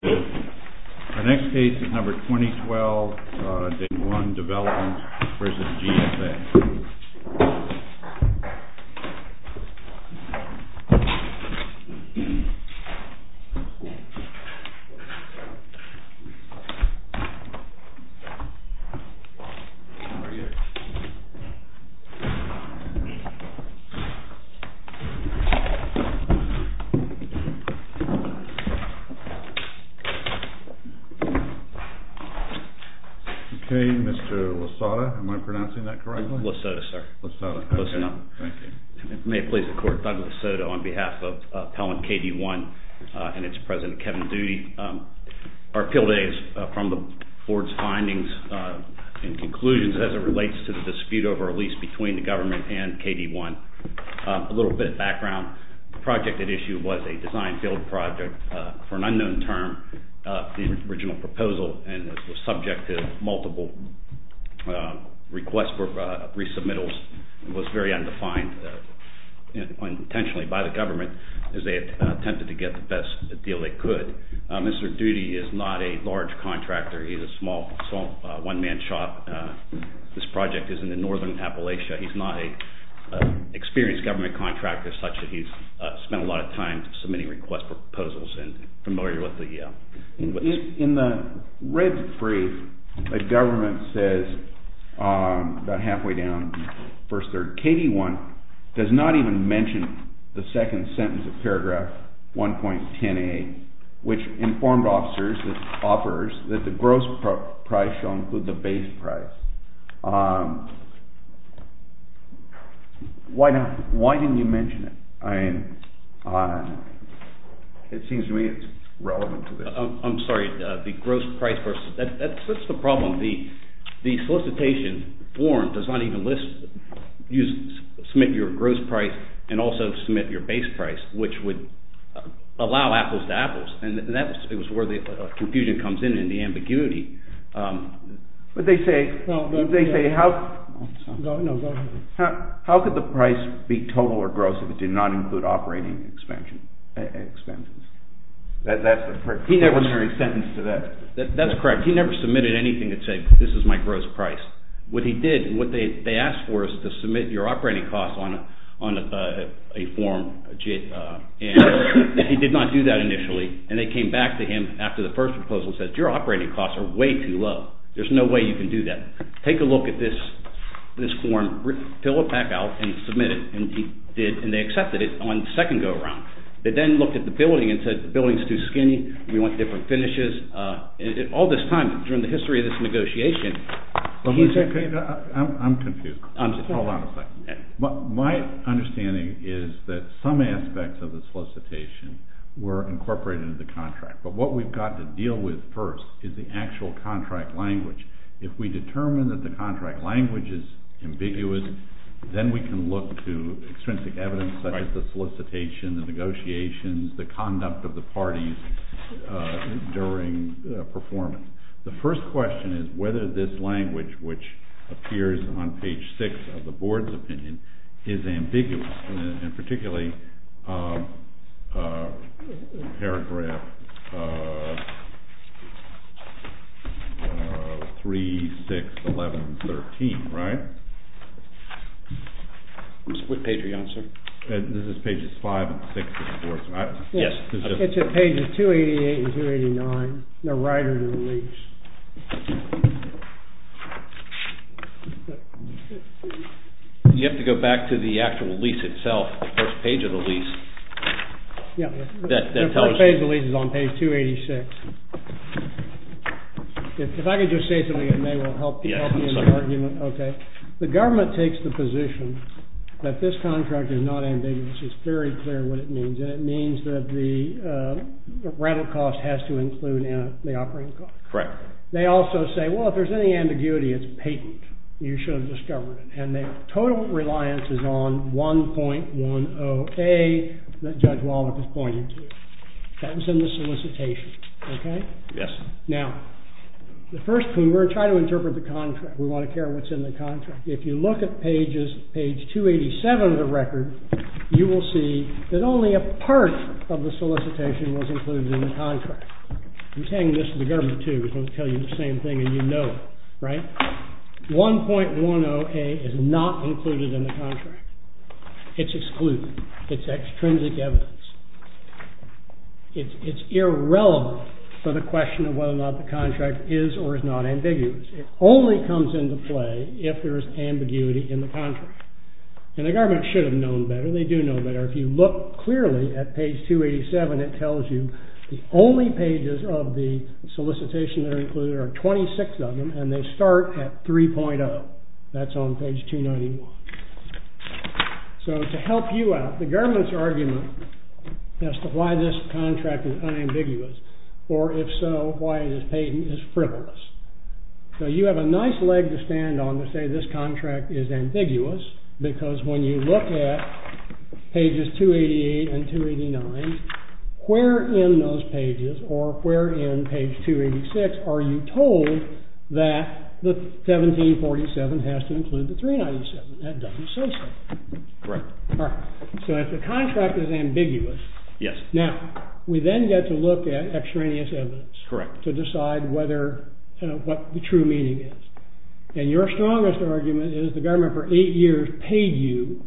The next case is number 2012, KD1 DEVELOPMENT v. GSA. Okay, Mr. Lasota, am I pronouncing that correctly? Lasota, sir. Lasota, okay. May it please the Court, Douglas Lasota on behalf of Appellant KD1 and its President Kevin Doody. Our appeal today is from the Board's findings and conclusions as it relates to the dispute over a lease between the government and KD1. A little bit of background, the project at issue was a design-build project for an unknown term. The original proposal was subject to multiple requests for resubmittals. It was very undefined intentionally by the government as they attempted to get the best deal they could. Mr. Doody is not a large contractor. He is a small one-man shop. This project is in the northern Appalachia. He is not an experienced government contractor such that he has spent a lot of time submitting request proposals and is familiar with the… In the red brief, the government says, about halfway down, KD1 does not even mention the second sentence of paragraph 1.10a, which informed officers, the offerors, that the gross price shall include the base price. Why didn't you mention it? I mean, it seems to me it's relevant to this. I'm sorry. The gross price… That's the problem. The solicitation form does not even list, submit your gross price and also submit your base price, which would allow apples to apples. And that's where the confusion comes in and the ambiguity. But they say, how could the price be total or gross if it did not include operating expenses? That's the preliminary sentence to that. That's correct. He never submitted anything that said, this is my gross price. What he did, what they asked for is to submit your operating costs on a form. And he did not do that initially. And they came back to him after the first proposal and said, your operating costs are way too low. There's no way you can do that. Take a look at this form. Fill it back out and submit it. And they accepted it on the second go-around. They then looked at the building and said, the building is too skinny. We want different finishes. All this time, during the history of this negotiation. I'm confused. Hold on a second. My understanding is that some aspects of the solicitation were incorporated into the contract. But what we've got to deal with first is the actual contract language. If we determine that the contract language is ambiguous, then we can look to extrinsic evidence such as the solicitation, the negotiations, the conduct of the parties during performance. The first question is whether this language, which appears on page six of the board's opinion, is ambiguous. And particularly paragraph 3, 6, 11, 13, right? Which page are you on, sir? This is pages 5 and 6 of the board's opinion. Yes. It's pages 288 and 289, the writer's release. You have to go back to the actual lease itself, the first page of the lease. Yeah. The first page of the lease is on page 286. If I could just say something, it may help me in the argument. Okay. The government takes the position that this contract is not ambiguous. It's very clear what it means. And it means that the rattle cost has to include the operating cost. Correct. They also say, well, if there's any ambiguity, it's patent. You should have discovered it. And the total reliance is on 1.10a that Judge Wallach is pointing to. That was in the solicitation. Okay? Yes. Now, the first thing, we're trying to interpret the contract. We want to care what's in the contract. If you look at pages, page 287 of the record, you will see that only a part of the solicitation was included in the contract. I'm saying this to the government, too, because I want to tell you the same thing, and you know it. Right? 1.10a is not included in the contract. It's excluded. It's extrinsic evidence. It's irrelevant for the question of whether or not the contract is or is not ambiguous. It only comes into play if there is ambiguity in the contract. And the government should have known better. They do know better. If you look clearly at page 287, it tells you the only pages of the solicitation that are included are 26 of them, and they start at 3.0. That's on page 291. So to help you out, the government's argument as to why this contract is unambiguous, or if so, why it is patent, is frivolous. So you have a nice leg to stand on to say this contract is ambiguous, because when you look at pages 288 and 289, where in those pages or where in page 286 are you told that the 1747 has to include the 397? That doesn't say so. Correct. All right. So if the contract is ambiguous. Yes. Correct. To decide what the true meaning is. And your strongest argument is the government for eight years paid you,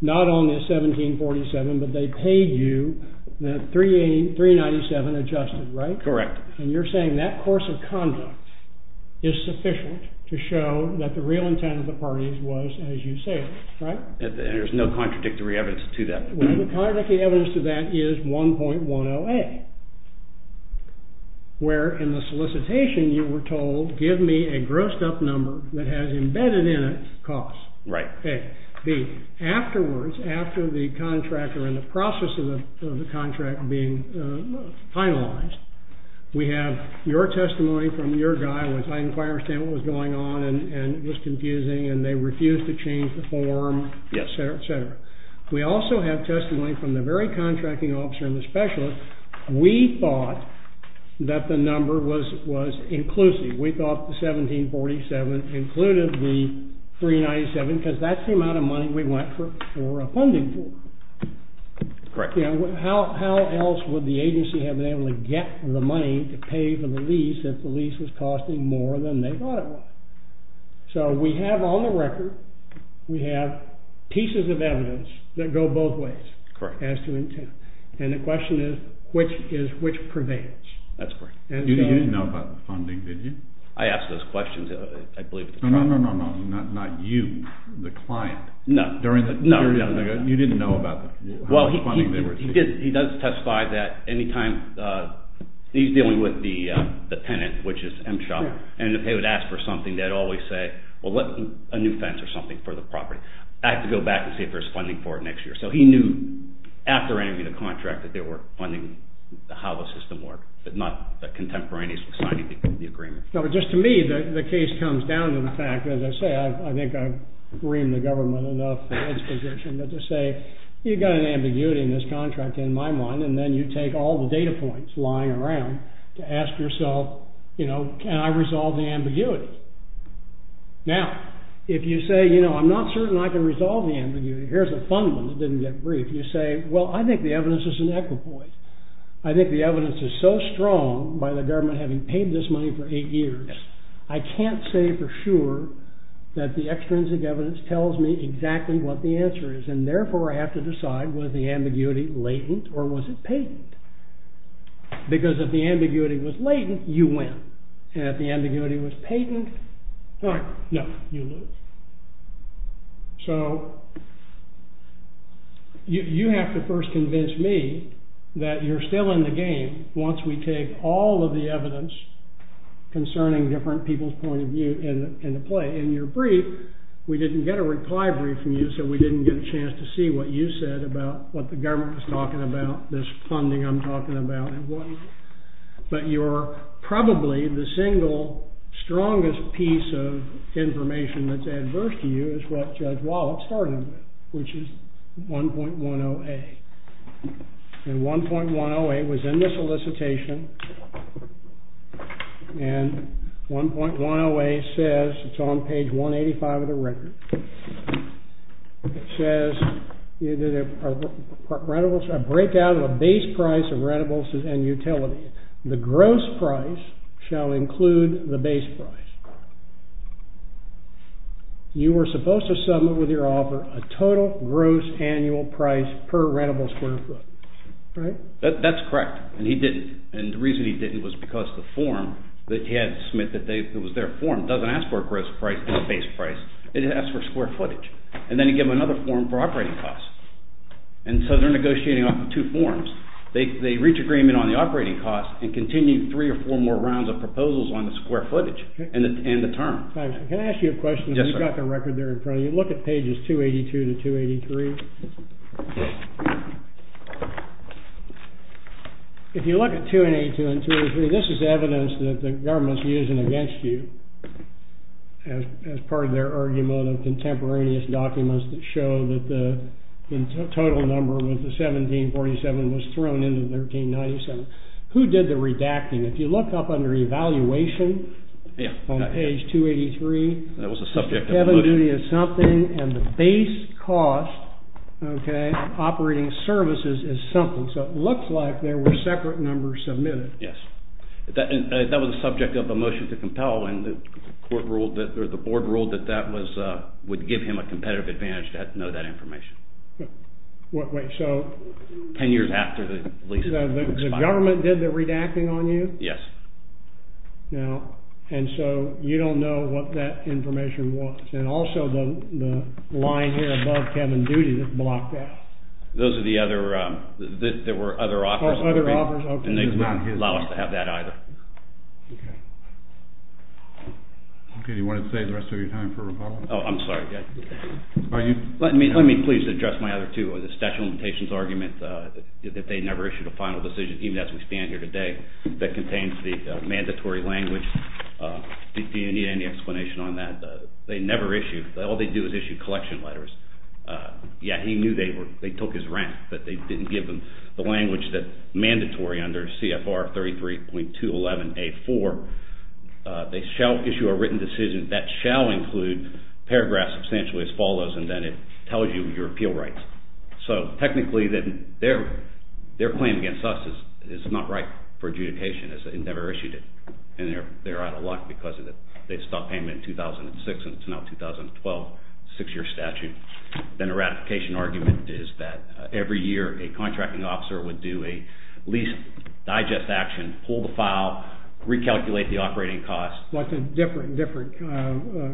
not only the 1747, but they paid you the 397 adjusted, right? Correct. And you're saying that course of conduct is sufficient to show that the real intent of the parties was, as you say, right? There's no contradictory evidence to that. Well, the contradictory evidence to that is 1.10a. Where in the solicitation you were told, give me a grossed up number that has embedded in it costs. Right. A. B. Afterwards, after the contractor and the process of the contract being finalized, we have your testimony from your guy, which I understand what was going on, and it was confusing, and they refused to change the form, et cetera, et cetera. We also have testimony from the very contracting officer and the specialist. We thought that the number was inclusive. We thought the 1747 included the 397 because that's the amount of money we went for funding for. Correct. How else would the agency have been able to get the money to pay for the lease if the lease was costing more than they thought it was? So we have on the record, we have pieces of evidence that go both ways. Correct. As to intent. And the question is, which prevails? That's correct. You didn't know about the funding, did you? I asked those questions, I believe, at the time. No, no, no, no, no. Not you, the client. No. You didn't know about the funding. He does testify that any time he's dealing with the tenant, which is M-Shop, and if they would ask for something, they'd always say, well, a new fence or something for the property. I have to go back and see if there's funding for it next year. So he knew after entering the contract that there were funding, how the system worked, but not contemporaneously signing the agreement. No, but just to me, the case comes down to the fact, as I say, I think I've reamed the government enough for Ed's position, but to say, you've got an ambiguity in this contract, in my mind, and then you take all the data points lying around to ask yourself, you know, can I resolve the ambiguity? Now, if you say, you know, I'm not certain I can resolve the ambiguity, here's a fun one that didn't get briefed. You say, well, I think the evidence is an equipoise. I think the evidence is so strong by the government having paid this money for eight years, I can't say for sure that the extrinsic evidence tells me exactly what the answer is, and therefore I have to decide, was the ambiguity latent or was it patent? Because if the ambiguity was latent, you win. And if the ambiguity was patent, no, you lose. So you have to first convince me that you're still in the game once we take all of the evidence concerning different people's point of view into play. In your brief, we didn't get a reply brief from you, so we didn't get a chance to see what you said about what the government was talking about, this funding I'm talking about. But you're probably the single strongest piece of information that's adverse to you is what Judge Wallop started with, which is 1.10a. And 1.10a was in the solicitation. And 1.10a says, it's on page 185 of the record. It says, a break out of a base price of rentables and utilities. The gross price shall include the base price. You were supposed to submit with your offer a total gross annual price per rentable square foot, right? That's correct. And he didn't. And the reason he didn't was because the form that he had to submit that was their form doesn't ask for a gross price and a base price. It asks for square footage. And then he gave them another form for operating costs. And so they're negotiating off of two forms. They reach agreement on the operating costs and continue three or four more rounds of proposals on the square footage and the term. Can I ask you a question? Yes, sir. We've got the record there in front of you. Look at pages 282 to 283. If you look at 282 and 283, this is evidence that the government's using against you as part of their argument of contemporaneous documents that show that the total number of the 1747 was thrown into 1397. Who did the redacting? If you look up under evaluation on page 283, the heaven duty is something and the base cost of operating services is something. So it looks like there were separate numbers submitted. Yes. That was the subject of the motion to compel, and the board ruled that that would give him a competitive advantage to know that information. Ten years after the lease expired. The government did the redacting on you? Yes. Now, and so you don't know what that information was. And also the line here above heaven duty that blocked out. Those are the other, there were other offers. Oh, other offers, OK. And they didn't allow us to have that either. OK. OK, do you want to save the rest of your time for rebuttal? Oh, I'm sorry. Are you? Let me please address my other two. The statute of limitations argument that they never issued a final decision, even as we stand here today, that contains the mandatory language. Do you need any explanation on that? They never issued, all they do is issue collection letters. Yeah, he knew they took his rent, but they didn't give him the language that's mandatory under CFR 33.211A4. They shall issue a written decision that shall include paragraphs substantially as follows, and then it tells you your appeal rights. So, technically, their claim against us is not right for adjudication. It never issued it, and they're out of luck because they stopped payment in 2006, and it's now 2012, six-year statute. Then a ratification argument is that every year a contracting officer would do a lease digest action, pull the file, recalculate the operating costs. What's a different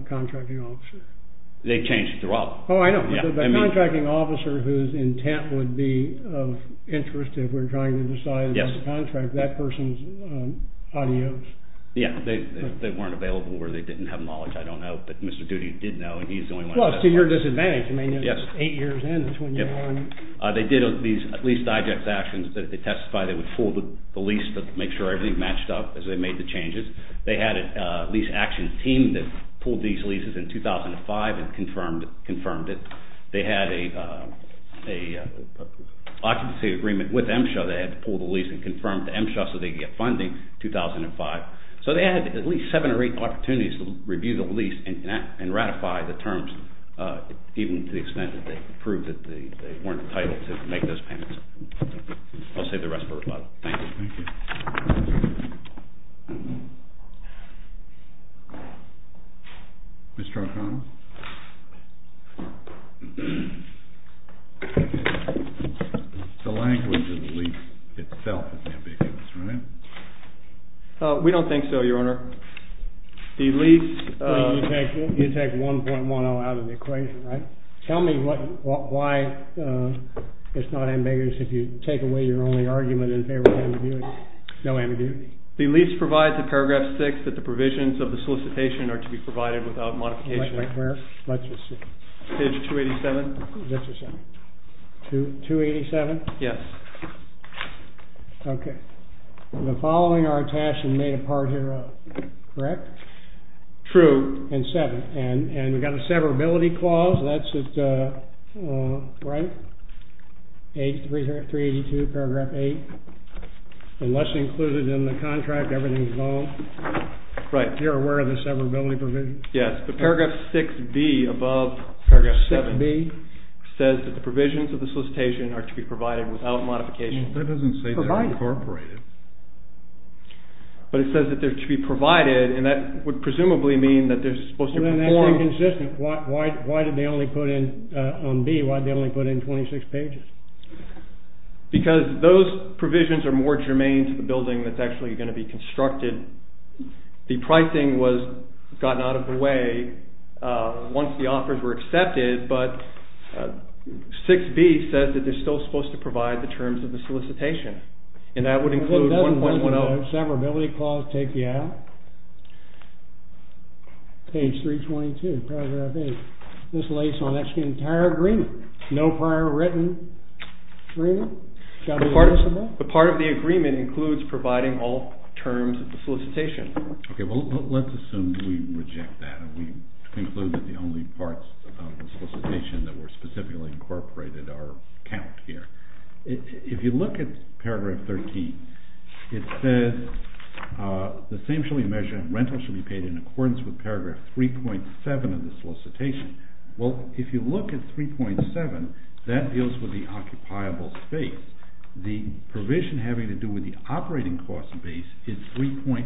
contracting officer? They change throughout. Oh, I know. The contracting officer whose intent would be of interest if we're trying to decide on the contract, that person's audios. Yeah, they weren't available or they didn't have knowledge. I don't know, but Mr. Doody did know, and he's the only one who knows. Well, it's to your disadvantage. I mean, it's eight years in. They did these lease digest actions. They testified they would pull the lease to make sure everything matched up as they made the changes. They had a lease action team that pulled these leases in 2005 and confirmed it. They had an occupancy agreement with MSHA. They had to pull the lease and confirm to MSHA so they could get funding in 2005. So they had at least seven or eight opportunities to review the lease and ratify the terms even to the extent that they proved that they weren't entitled to make those payments. I'll save the rest for later. Thank you. Thank you. Mr. O'Connell? The language of the lease itself is ambiguous, right? We don't think so, Your Honor. You take 1.10 out of the equation, right? Tell me why it's not ambiguous if you take away your only argument in favor of ambiguity. No ambiguity. The lease provides in paragraph 6 that the provisions of the solicitation are to be provided without modification. Where? Page 287. 287? Yes. Okay. The following are attached and made a part hereof, correct? True. And 7. And we've got a severability clause. That's at, right? 382, paragraph 8. Unless included in the contract, everything is null. Right. You're aware of the severability provision? Yes. The paragraph 6B above paragraph 7 says that the provisions of the solicitation are to be provided without modification. That doesn't say they're incorporated. But it says that they're to be provided, and that would presumably mean that they're supposed to perform. Then that's inconsistent. Why did they only put in, on B, why did they only put in 26 pages? Because those provisions are more germane to the building that's actually going to be constructed. The pricing was gotten out of the way once the offers were accepted, but 6B says that they're still supposed to provide the terms of the solicitation. And that would include 1.10. Doesn't the severability clause take you out? Page 322, paragraph 8. This lays on the entire agreement. No prior written agreement. The part of the agreement includes providing all terms of the solicitation. Okay. Well, let's assume we reject that and we conclude that the only parts of the solicitation that were specifically incorporated are counted here. If you look at paragraph 13, it says, the same shall be measured and rental shall be paid in accordance with paragraph 3.7 of the solicitation. Well, if you look at 3.7, that deals with the occupiable space. The provision having to do with the operating cost base is 3.6.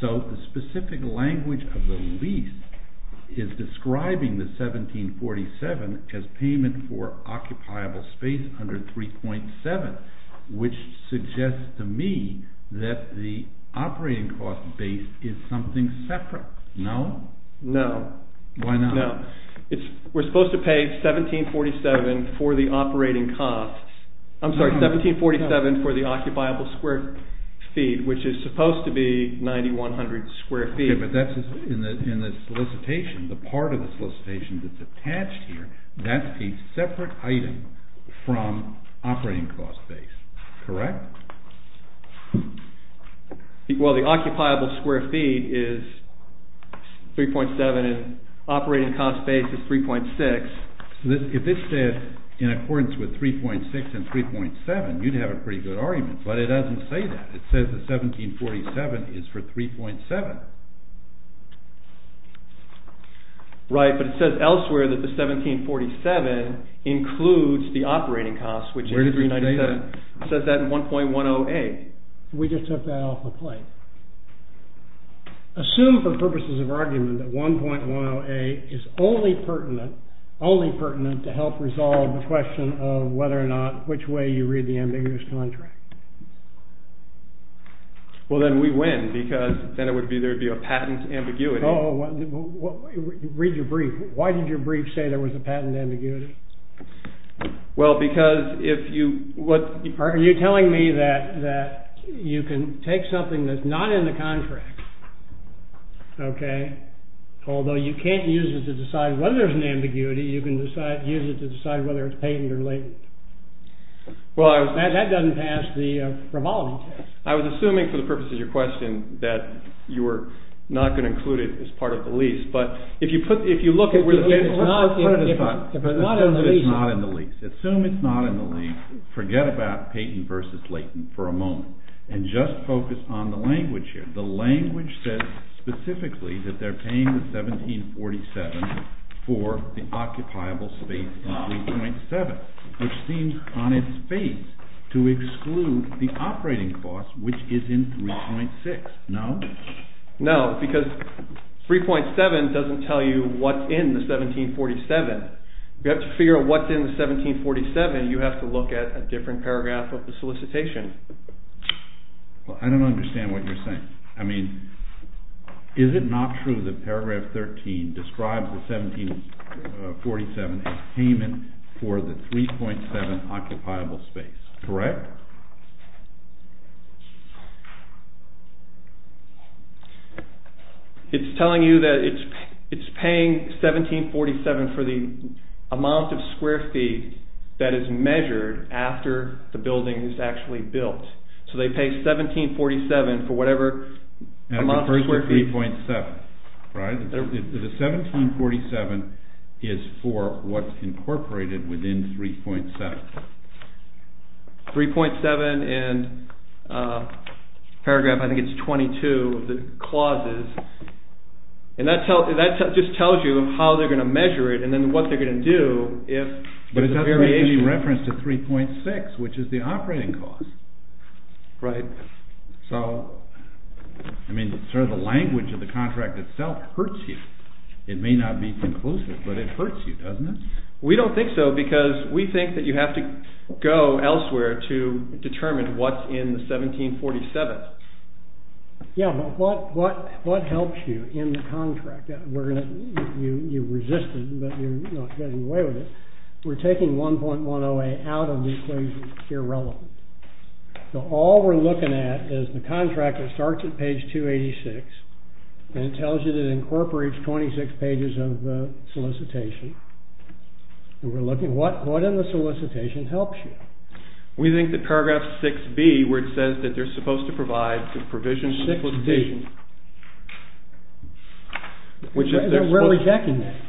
So the specific language of the lease is describing the 1747 as payment for occupiable space under 3.7, which suggests to me that the operating cost base is something separate. No? No. Why not? No. We're supposed to pay 1747 for the operating costs. I'm sorry, 1747 for the occupiable square feet, which is supposed to be 9,100 square feet. Okay, but that's in the solicitation. The part of the solicitation that's attached here, that's a separate item from operating cost base, correct? Well, the occupiable square feet is 3.7 and operating cost base is 3.6. If this says in accordance with 3.6 and 3.7, you'd have a pretty good argument, but it doesn't say that. It says the 1747 is for 3.7. Right, but it says elsewhere that the 1747 includes the operating cost, which is 397. Where does it say that? It says that in 1.10a. We just took that off the plate. Assume for purposes of argument that 1.10a is only pertinent to help resolve the question of whether or not, which way you read the ambiguous contract. Well, then we win because then there would be a patent ambiguity. Read your brief. Why did your brief say there was a patent ambiguity? Well, because if you... Are you telling me that you can take something that's not in the contract, okay, although you can't use it to decide whether there's an ambiguity, you can use it to decide whether it's patent or latent? That doesn't pass the probability test. I was assuming for the purposes of your question that you were not going to include it as part of the lease, Assume it's not in the lease. Assume it's not in the lease. Forget about patent versus latent for a moment and just focus on the language here. The language says specifically that they're paying the 1747 for the occupiable space in 3.7, which seems on its face to exclude the operating cost, which is in 3.6. No? No, because 3.7 doesn't tell you what's in the 1747. If you have to figure out what's in the 1747, you have to look at a different paragraph of the solicitation. I don't understand what you're saying. I mean, is it not true that paragraph 13 describes the 1747 as payment for the 3.7 occupiable space, correct? It's telling you that it's paying 1747 for the amount of square feet that is measured after the building is actually built. So they pay 1747 for whatever amount of square feet. It refers to 3.7, right? The 1747 is for what's incorporated within 3.7. 3.7 and paragraph, I think it's 22 of the clauses. And that just tells you how they're going to measure it and then what they're going to do if there's a variation. But it doesn't make any reference to 3.6, which is the operating cost. Right. So, I mean, sort of the language of the contract itself hurts you. It may not be conclusive, but it hurts you, doesn't it? We don't think so because we think that you have to go elsewhere to determine what's in the 1747. Yeah, but what helps you in the contract? You resisted, but you're not getting away with it. We're taking 1.108 out of these clauses here relevant. So all we're looking at is the contract that starts at page 286 and tells you that it incorporates 26 pages of the solicitation. We're looking at what in the solicitation helps you. We think that paragraph 6B where it says that they're supposed to provide the provisions of the solicitation. 6B. We're rejecting that.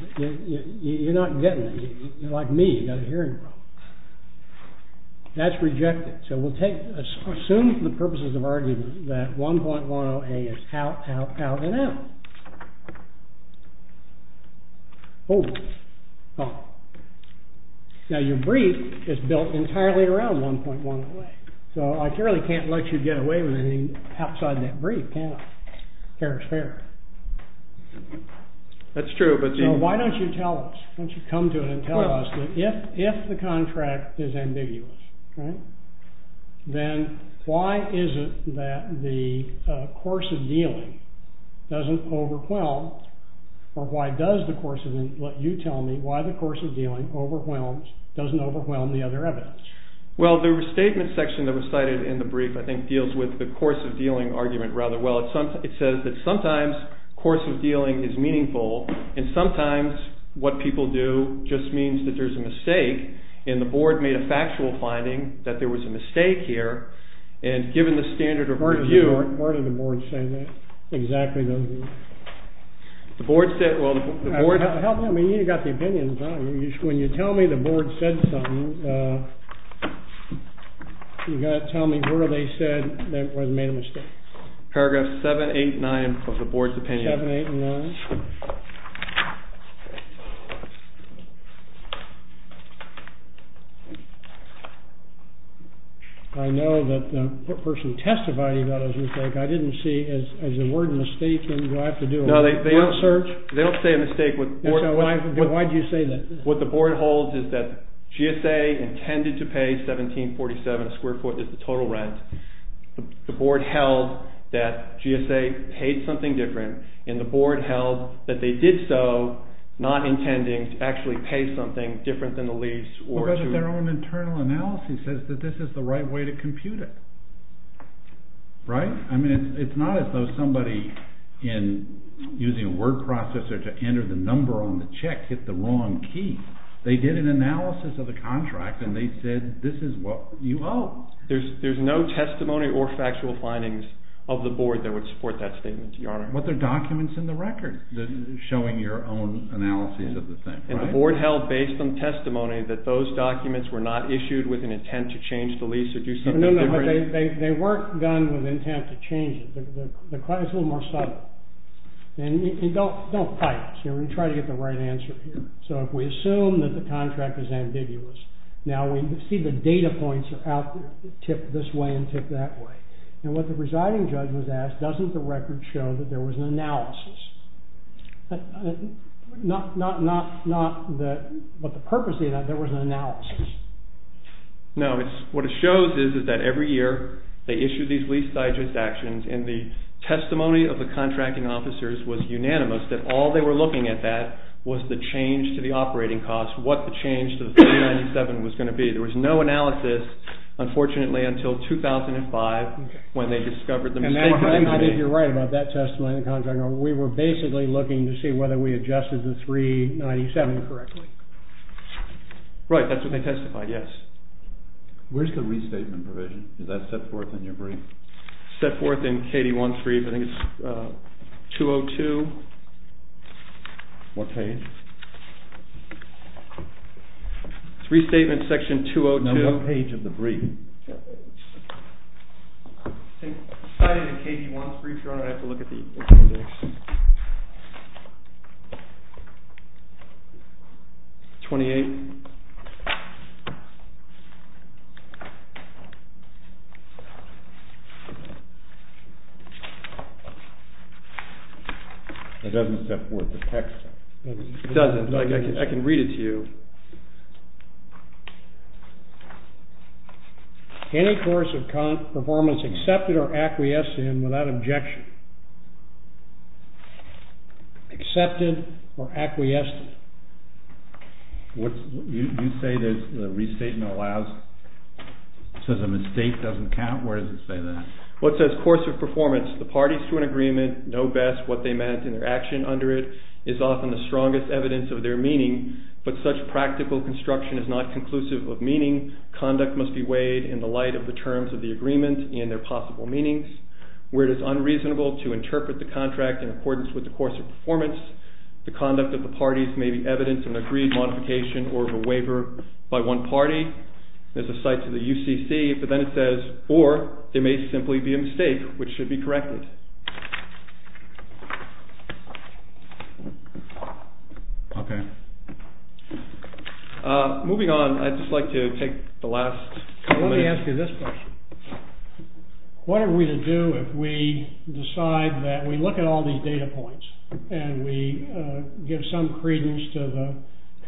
You're not getting it. You're like me, you've got a hearing problem. That's rejected. So we'll take, assume for the purposes of argument that 1.108 is out, out, out, and out. Oh, now your brief is built entirely around 1.108. So I really can't let you get away with anything outside that brief, can I? Fair is fair. That's true, but you... So why don't you tell us? Why don't you come to it and tell us that if the contract is ambiguous, right, then why is it that the course of dealing doesn't overwhelm, or why does the course of dealing, let you tell me why the course of dealing overwhelms, doesn't overwhelm the other evidence? Well, the statement section that was cited in the brief I think deals with the course of dealing argument rather well. It says that sometimes course of dealing is meaningful and sometimes what people do just means that there's a mistake and the board made a factual finding that there was a mistake here and given the standard of review... Where did the board say that exactly? The board said, well, the board... Help me, I mean, you've got the opinion. When you tell me the board said something, you've got to tell me where they said that was made a mistake. Paragraph 789 of the board's opinion. 789. I know that the person testifying about a mistake, I didn't see as a word mistake and do I have to do a full search? No, they don't say a mistake. Why do you say that? What the board holds is that GSA intended to pay 1747 a square foot as the total rent. The board held that GSA paid something different and the board held that they did so not intending to actually pay something different than the lease or... But their own internal analysis says that this is the right way to compute it, right? I mean, it's not as though somebody in using a word processor to enter the number on the check hit the wrong key. They did an analysis of the contract and they said this is what you owe. There's no testimony or factual findings of the board that would support that statement, Your Honor. But there are documents in the record showing your own analysis of the thing. And the board held based on testimony that those documents were not issued with an intent to change the lease or do something different? No, no, but they weren't done with intent to change it. The claim is a little more subtle. And don't fight us. We're going to try to get the right answer here. So if we assume that the contract is ambiguous, now we see the data points are out, tip this way and tip that way. And what the presiding judge was asked, doesn't the record show that there was an analysis? Not the purpose of the analysis, there was an analysis. No, what it shows is that every year they issued these lease digest actions and the testimony of the contracting officers was unanimous that all they were looking at that was the change to the operating cost, what the change to the 397 was going to be. There was no analysis, unfortunately, until 2005 when they discovered the mistake. I think you're right about that testimony. We were basically looking to see whether we adjusted the 397 correctly. Right, that's what they testified, yes. Where's the restatement provision? Is that set forth in your brief? Set forth in KD13, I think it's 202. What page? Restatement section 202. No, what page of the brief? I think it's cited in KD13, if you want to have a look at the... Thanks. 28. It doesn't set forth the text. It doesn't, I can read it to you. Any course of performance accepted or acquiesced in without objection. Accepted or acquiesced in. You say that the restatement allows, says a mistake doesn't count, where does it say that? What says course of performance, the parties to an agreement know best what they meant and their action under it is often the strongest evidence of their meaning, but such practical construction is not conclusive of meaning. Conduct must be weighed in the light of the terms of the agreement and their possible meanings. Where it is unreasonable to interpret the contract in accordance with the course of performance, the conduct of the parties may be evidence of an agreed modification or of a waiver by one party. There's a cite to the UCC, but then it says, or there may simply be a mistake, which should be corrected. Okay. Moving on, I'd just like to take the last couple of minutes. Let me ask you this question. What are we to do if we decide that we look at all these data points and we give some credence to the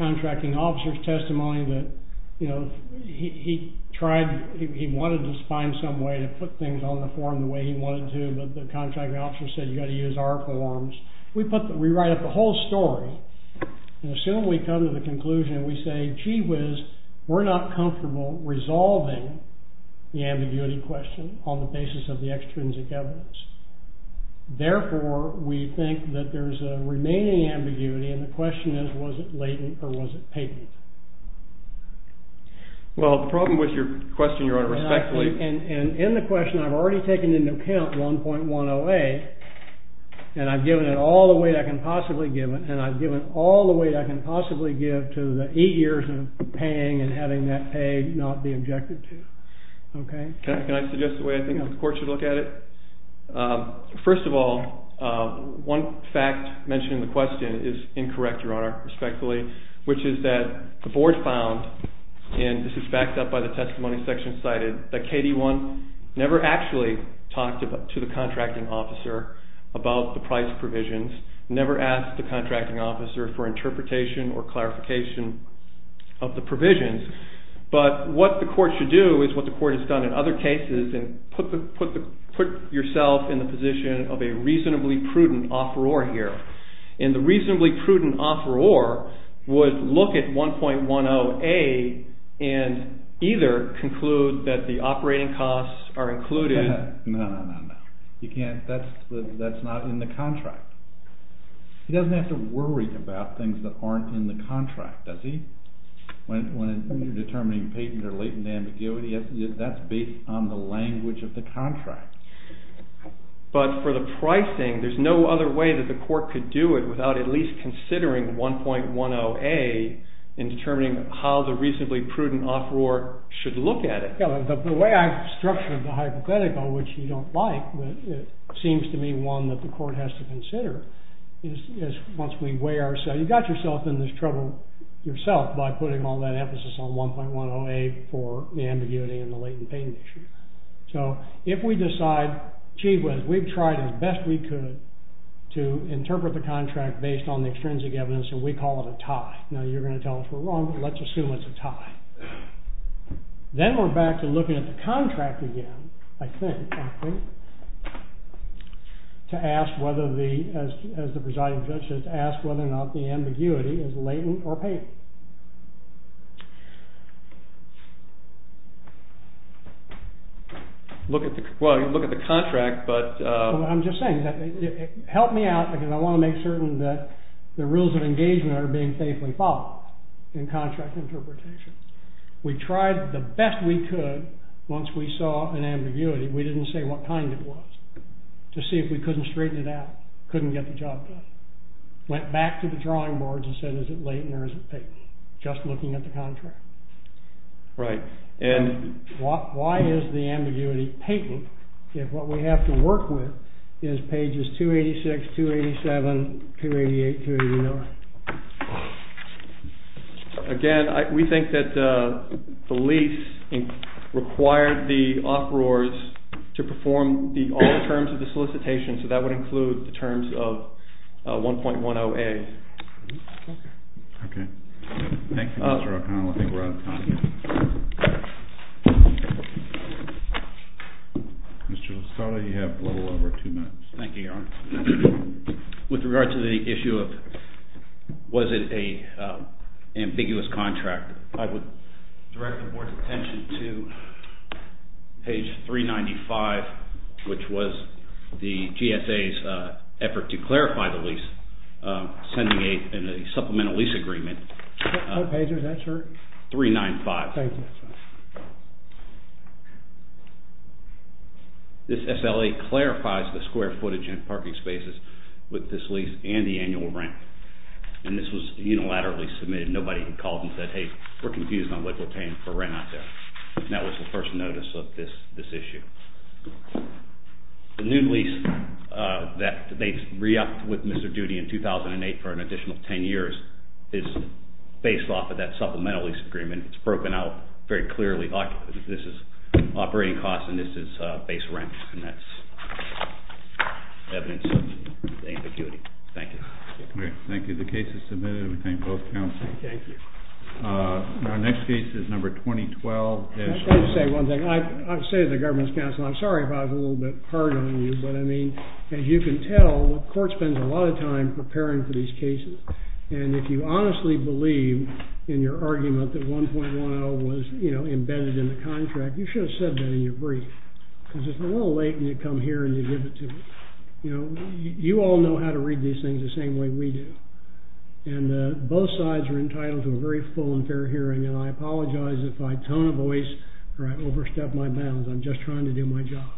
contracting officer's testimony that, you know, he tried, he wanted to find some way to put things on the form the way he wanted to, but the contracting officer said you've got to use our forms. We write up the whole story and as soon as we come to the conclusion, we say, gee whiz, we're not comfortable resolving the ambiguity question on the basis of the extrinsic evidence. Therefore, we think that there's a remaining ambiguity and the question is was it latent or was it patent? Well, the problem with your question, Your Honor, respectfully. And in the question, I've already taken into account 1.108 and I've given it all the weight I can possibly give it to the eight years of paying and having that pay not be objected to. Okay. Can I suggest a way I think the court should look at it? First of all, one fact mentioned in the question is incorrect, Your Honor, respectfully, which is that the board found, and this is backed up by the testimony section cited, that KD1 never actually talked to the contracting officer about the price provisions, never asked the contracting officer for interpretation or clarification of the provisions. But what the court should do is what the court has done in other cases and put yourself in the position of a reasonably prudent offeror here. And the reasonably prudent offeror would look at 1.108 and either conclude that the operating costs are included. No, no, no, no. That's not in the contract. He doesn't have to worry about things that aren't in the contract, does he? When you're determining patent or latent ambiguity, that's based on the language of the contract. But for the pricing, there's no other way that the court could do it without at least considering 1.108 in determining how the reasonably prudent offeror should look at it. The way I've structured the hypothetical, which you don't like, seems to be one that the court has to consider once we weigh ourselves. You got yourself in this trouble yourself by putting all that emphasis on 1.108 for the ambiguity and the latent patent issue. So if we decide, gee whiz, we've tried as best we could to interpret the contract based on the extrinsic evidence, and we call it a tie. Now, you're going to tell us we're wrong, but let's assume it's a tie. Then we're back to looking at the contract again, I think, to ask whether the, as the presiding judge said, to ask whether or not the ambiguity is latent or patent. Look at the contract, but... I'm just saying, help me out, because I want to make certain that the rules of engagement are being faithfully followed in contract interpretation. We tried the best we could once we saw an ambiguity. We didn't say what kind it was to see if we couldn't straighten it out, couldn't get the job done. Went back to the drawing boards and said, is it latent or is it patent? Just looking at the contract. Right. And... Why is the ambiguity patent if what we have to work with is pages 286, 287, 288, 289? Again, we think that the lease required the offroaders to perform all terms of the solicitation, so that would include the terms of 1.10A. Okay. Thank you, Mr. O'Connell. I think we're out of time. Thank you. Mr. Lozada, you have a little over two minutes. Thank you, Your Honor. With regard to the issue of was it an ambiguous contract, I would direct the Board's attention to page 395, which was the GSA's effort to clarify the lease, sending a supplemental lease agreement. What page was that, sir? 395. Thank you. This SLA clarifies the square footage in parking spaces with this lease and the annual rent. And this was unilaterally submitted. Nobody called and said, hey, we're confused on what we're paying for rent out there. That was the first notice of this issue. The new lease that they re-upped with Mr. Doody in 2008 for an additional 10 years is based off of that supplemental lease agreement. It's broken out very clearly. This is operating costs and this is base rent, and that's evidence of the ambiguity. Thank you. Great. Thank you. The case is submitted. We thank both counsels. Thank you. Our next case is number 2012. Can I just say one thing? I say as a government counsel, I'm sorry if I was a little bit hard on you, but, I mean, as you can tell, the court spends a lot of time preparing for these cases. And if you honestly believe in your argument that 1.10 was embedded in the contract, you should have said that in your brief. Because it's a little late when you come here and you give it to me. You all know how to read these things the same way we do. And both sides are entitled to a very full and fair hearing, and I apologize if I tone a voice or I overstep my bounds. I'm just trying to do my job.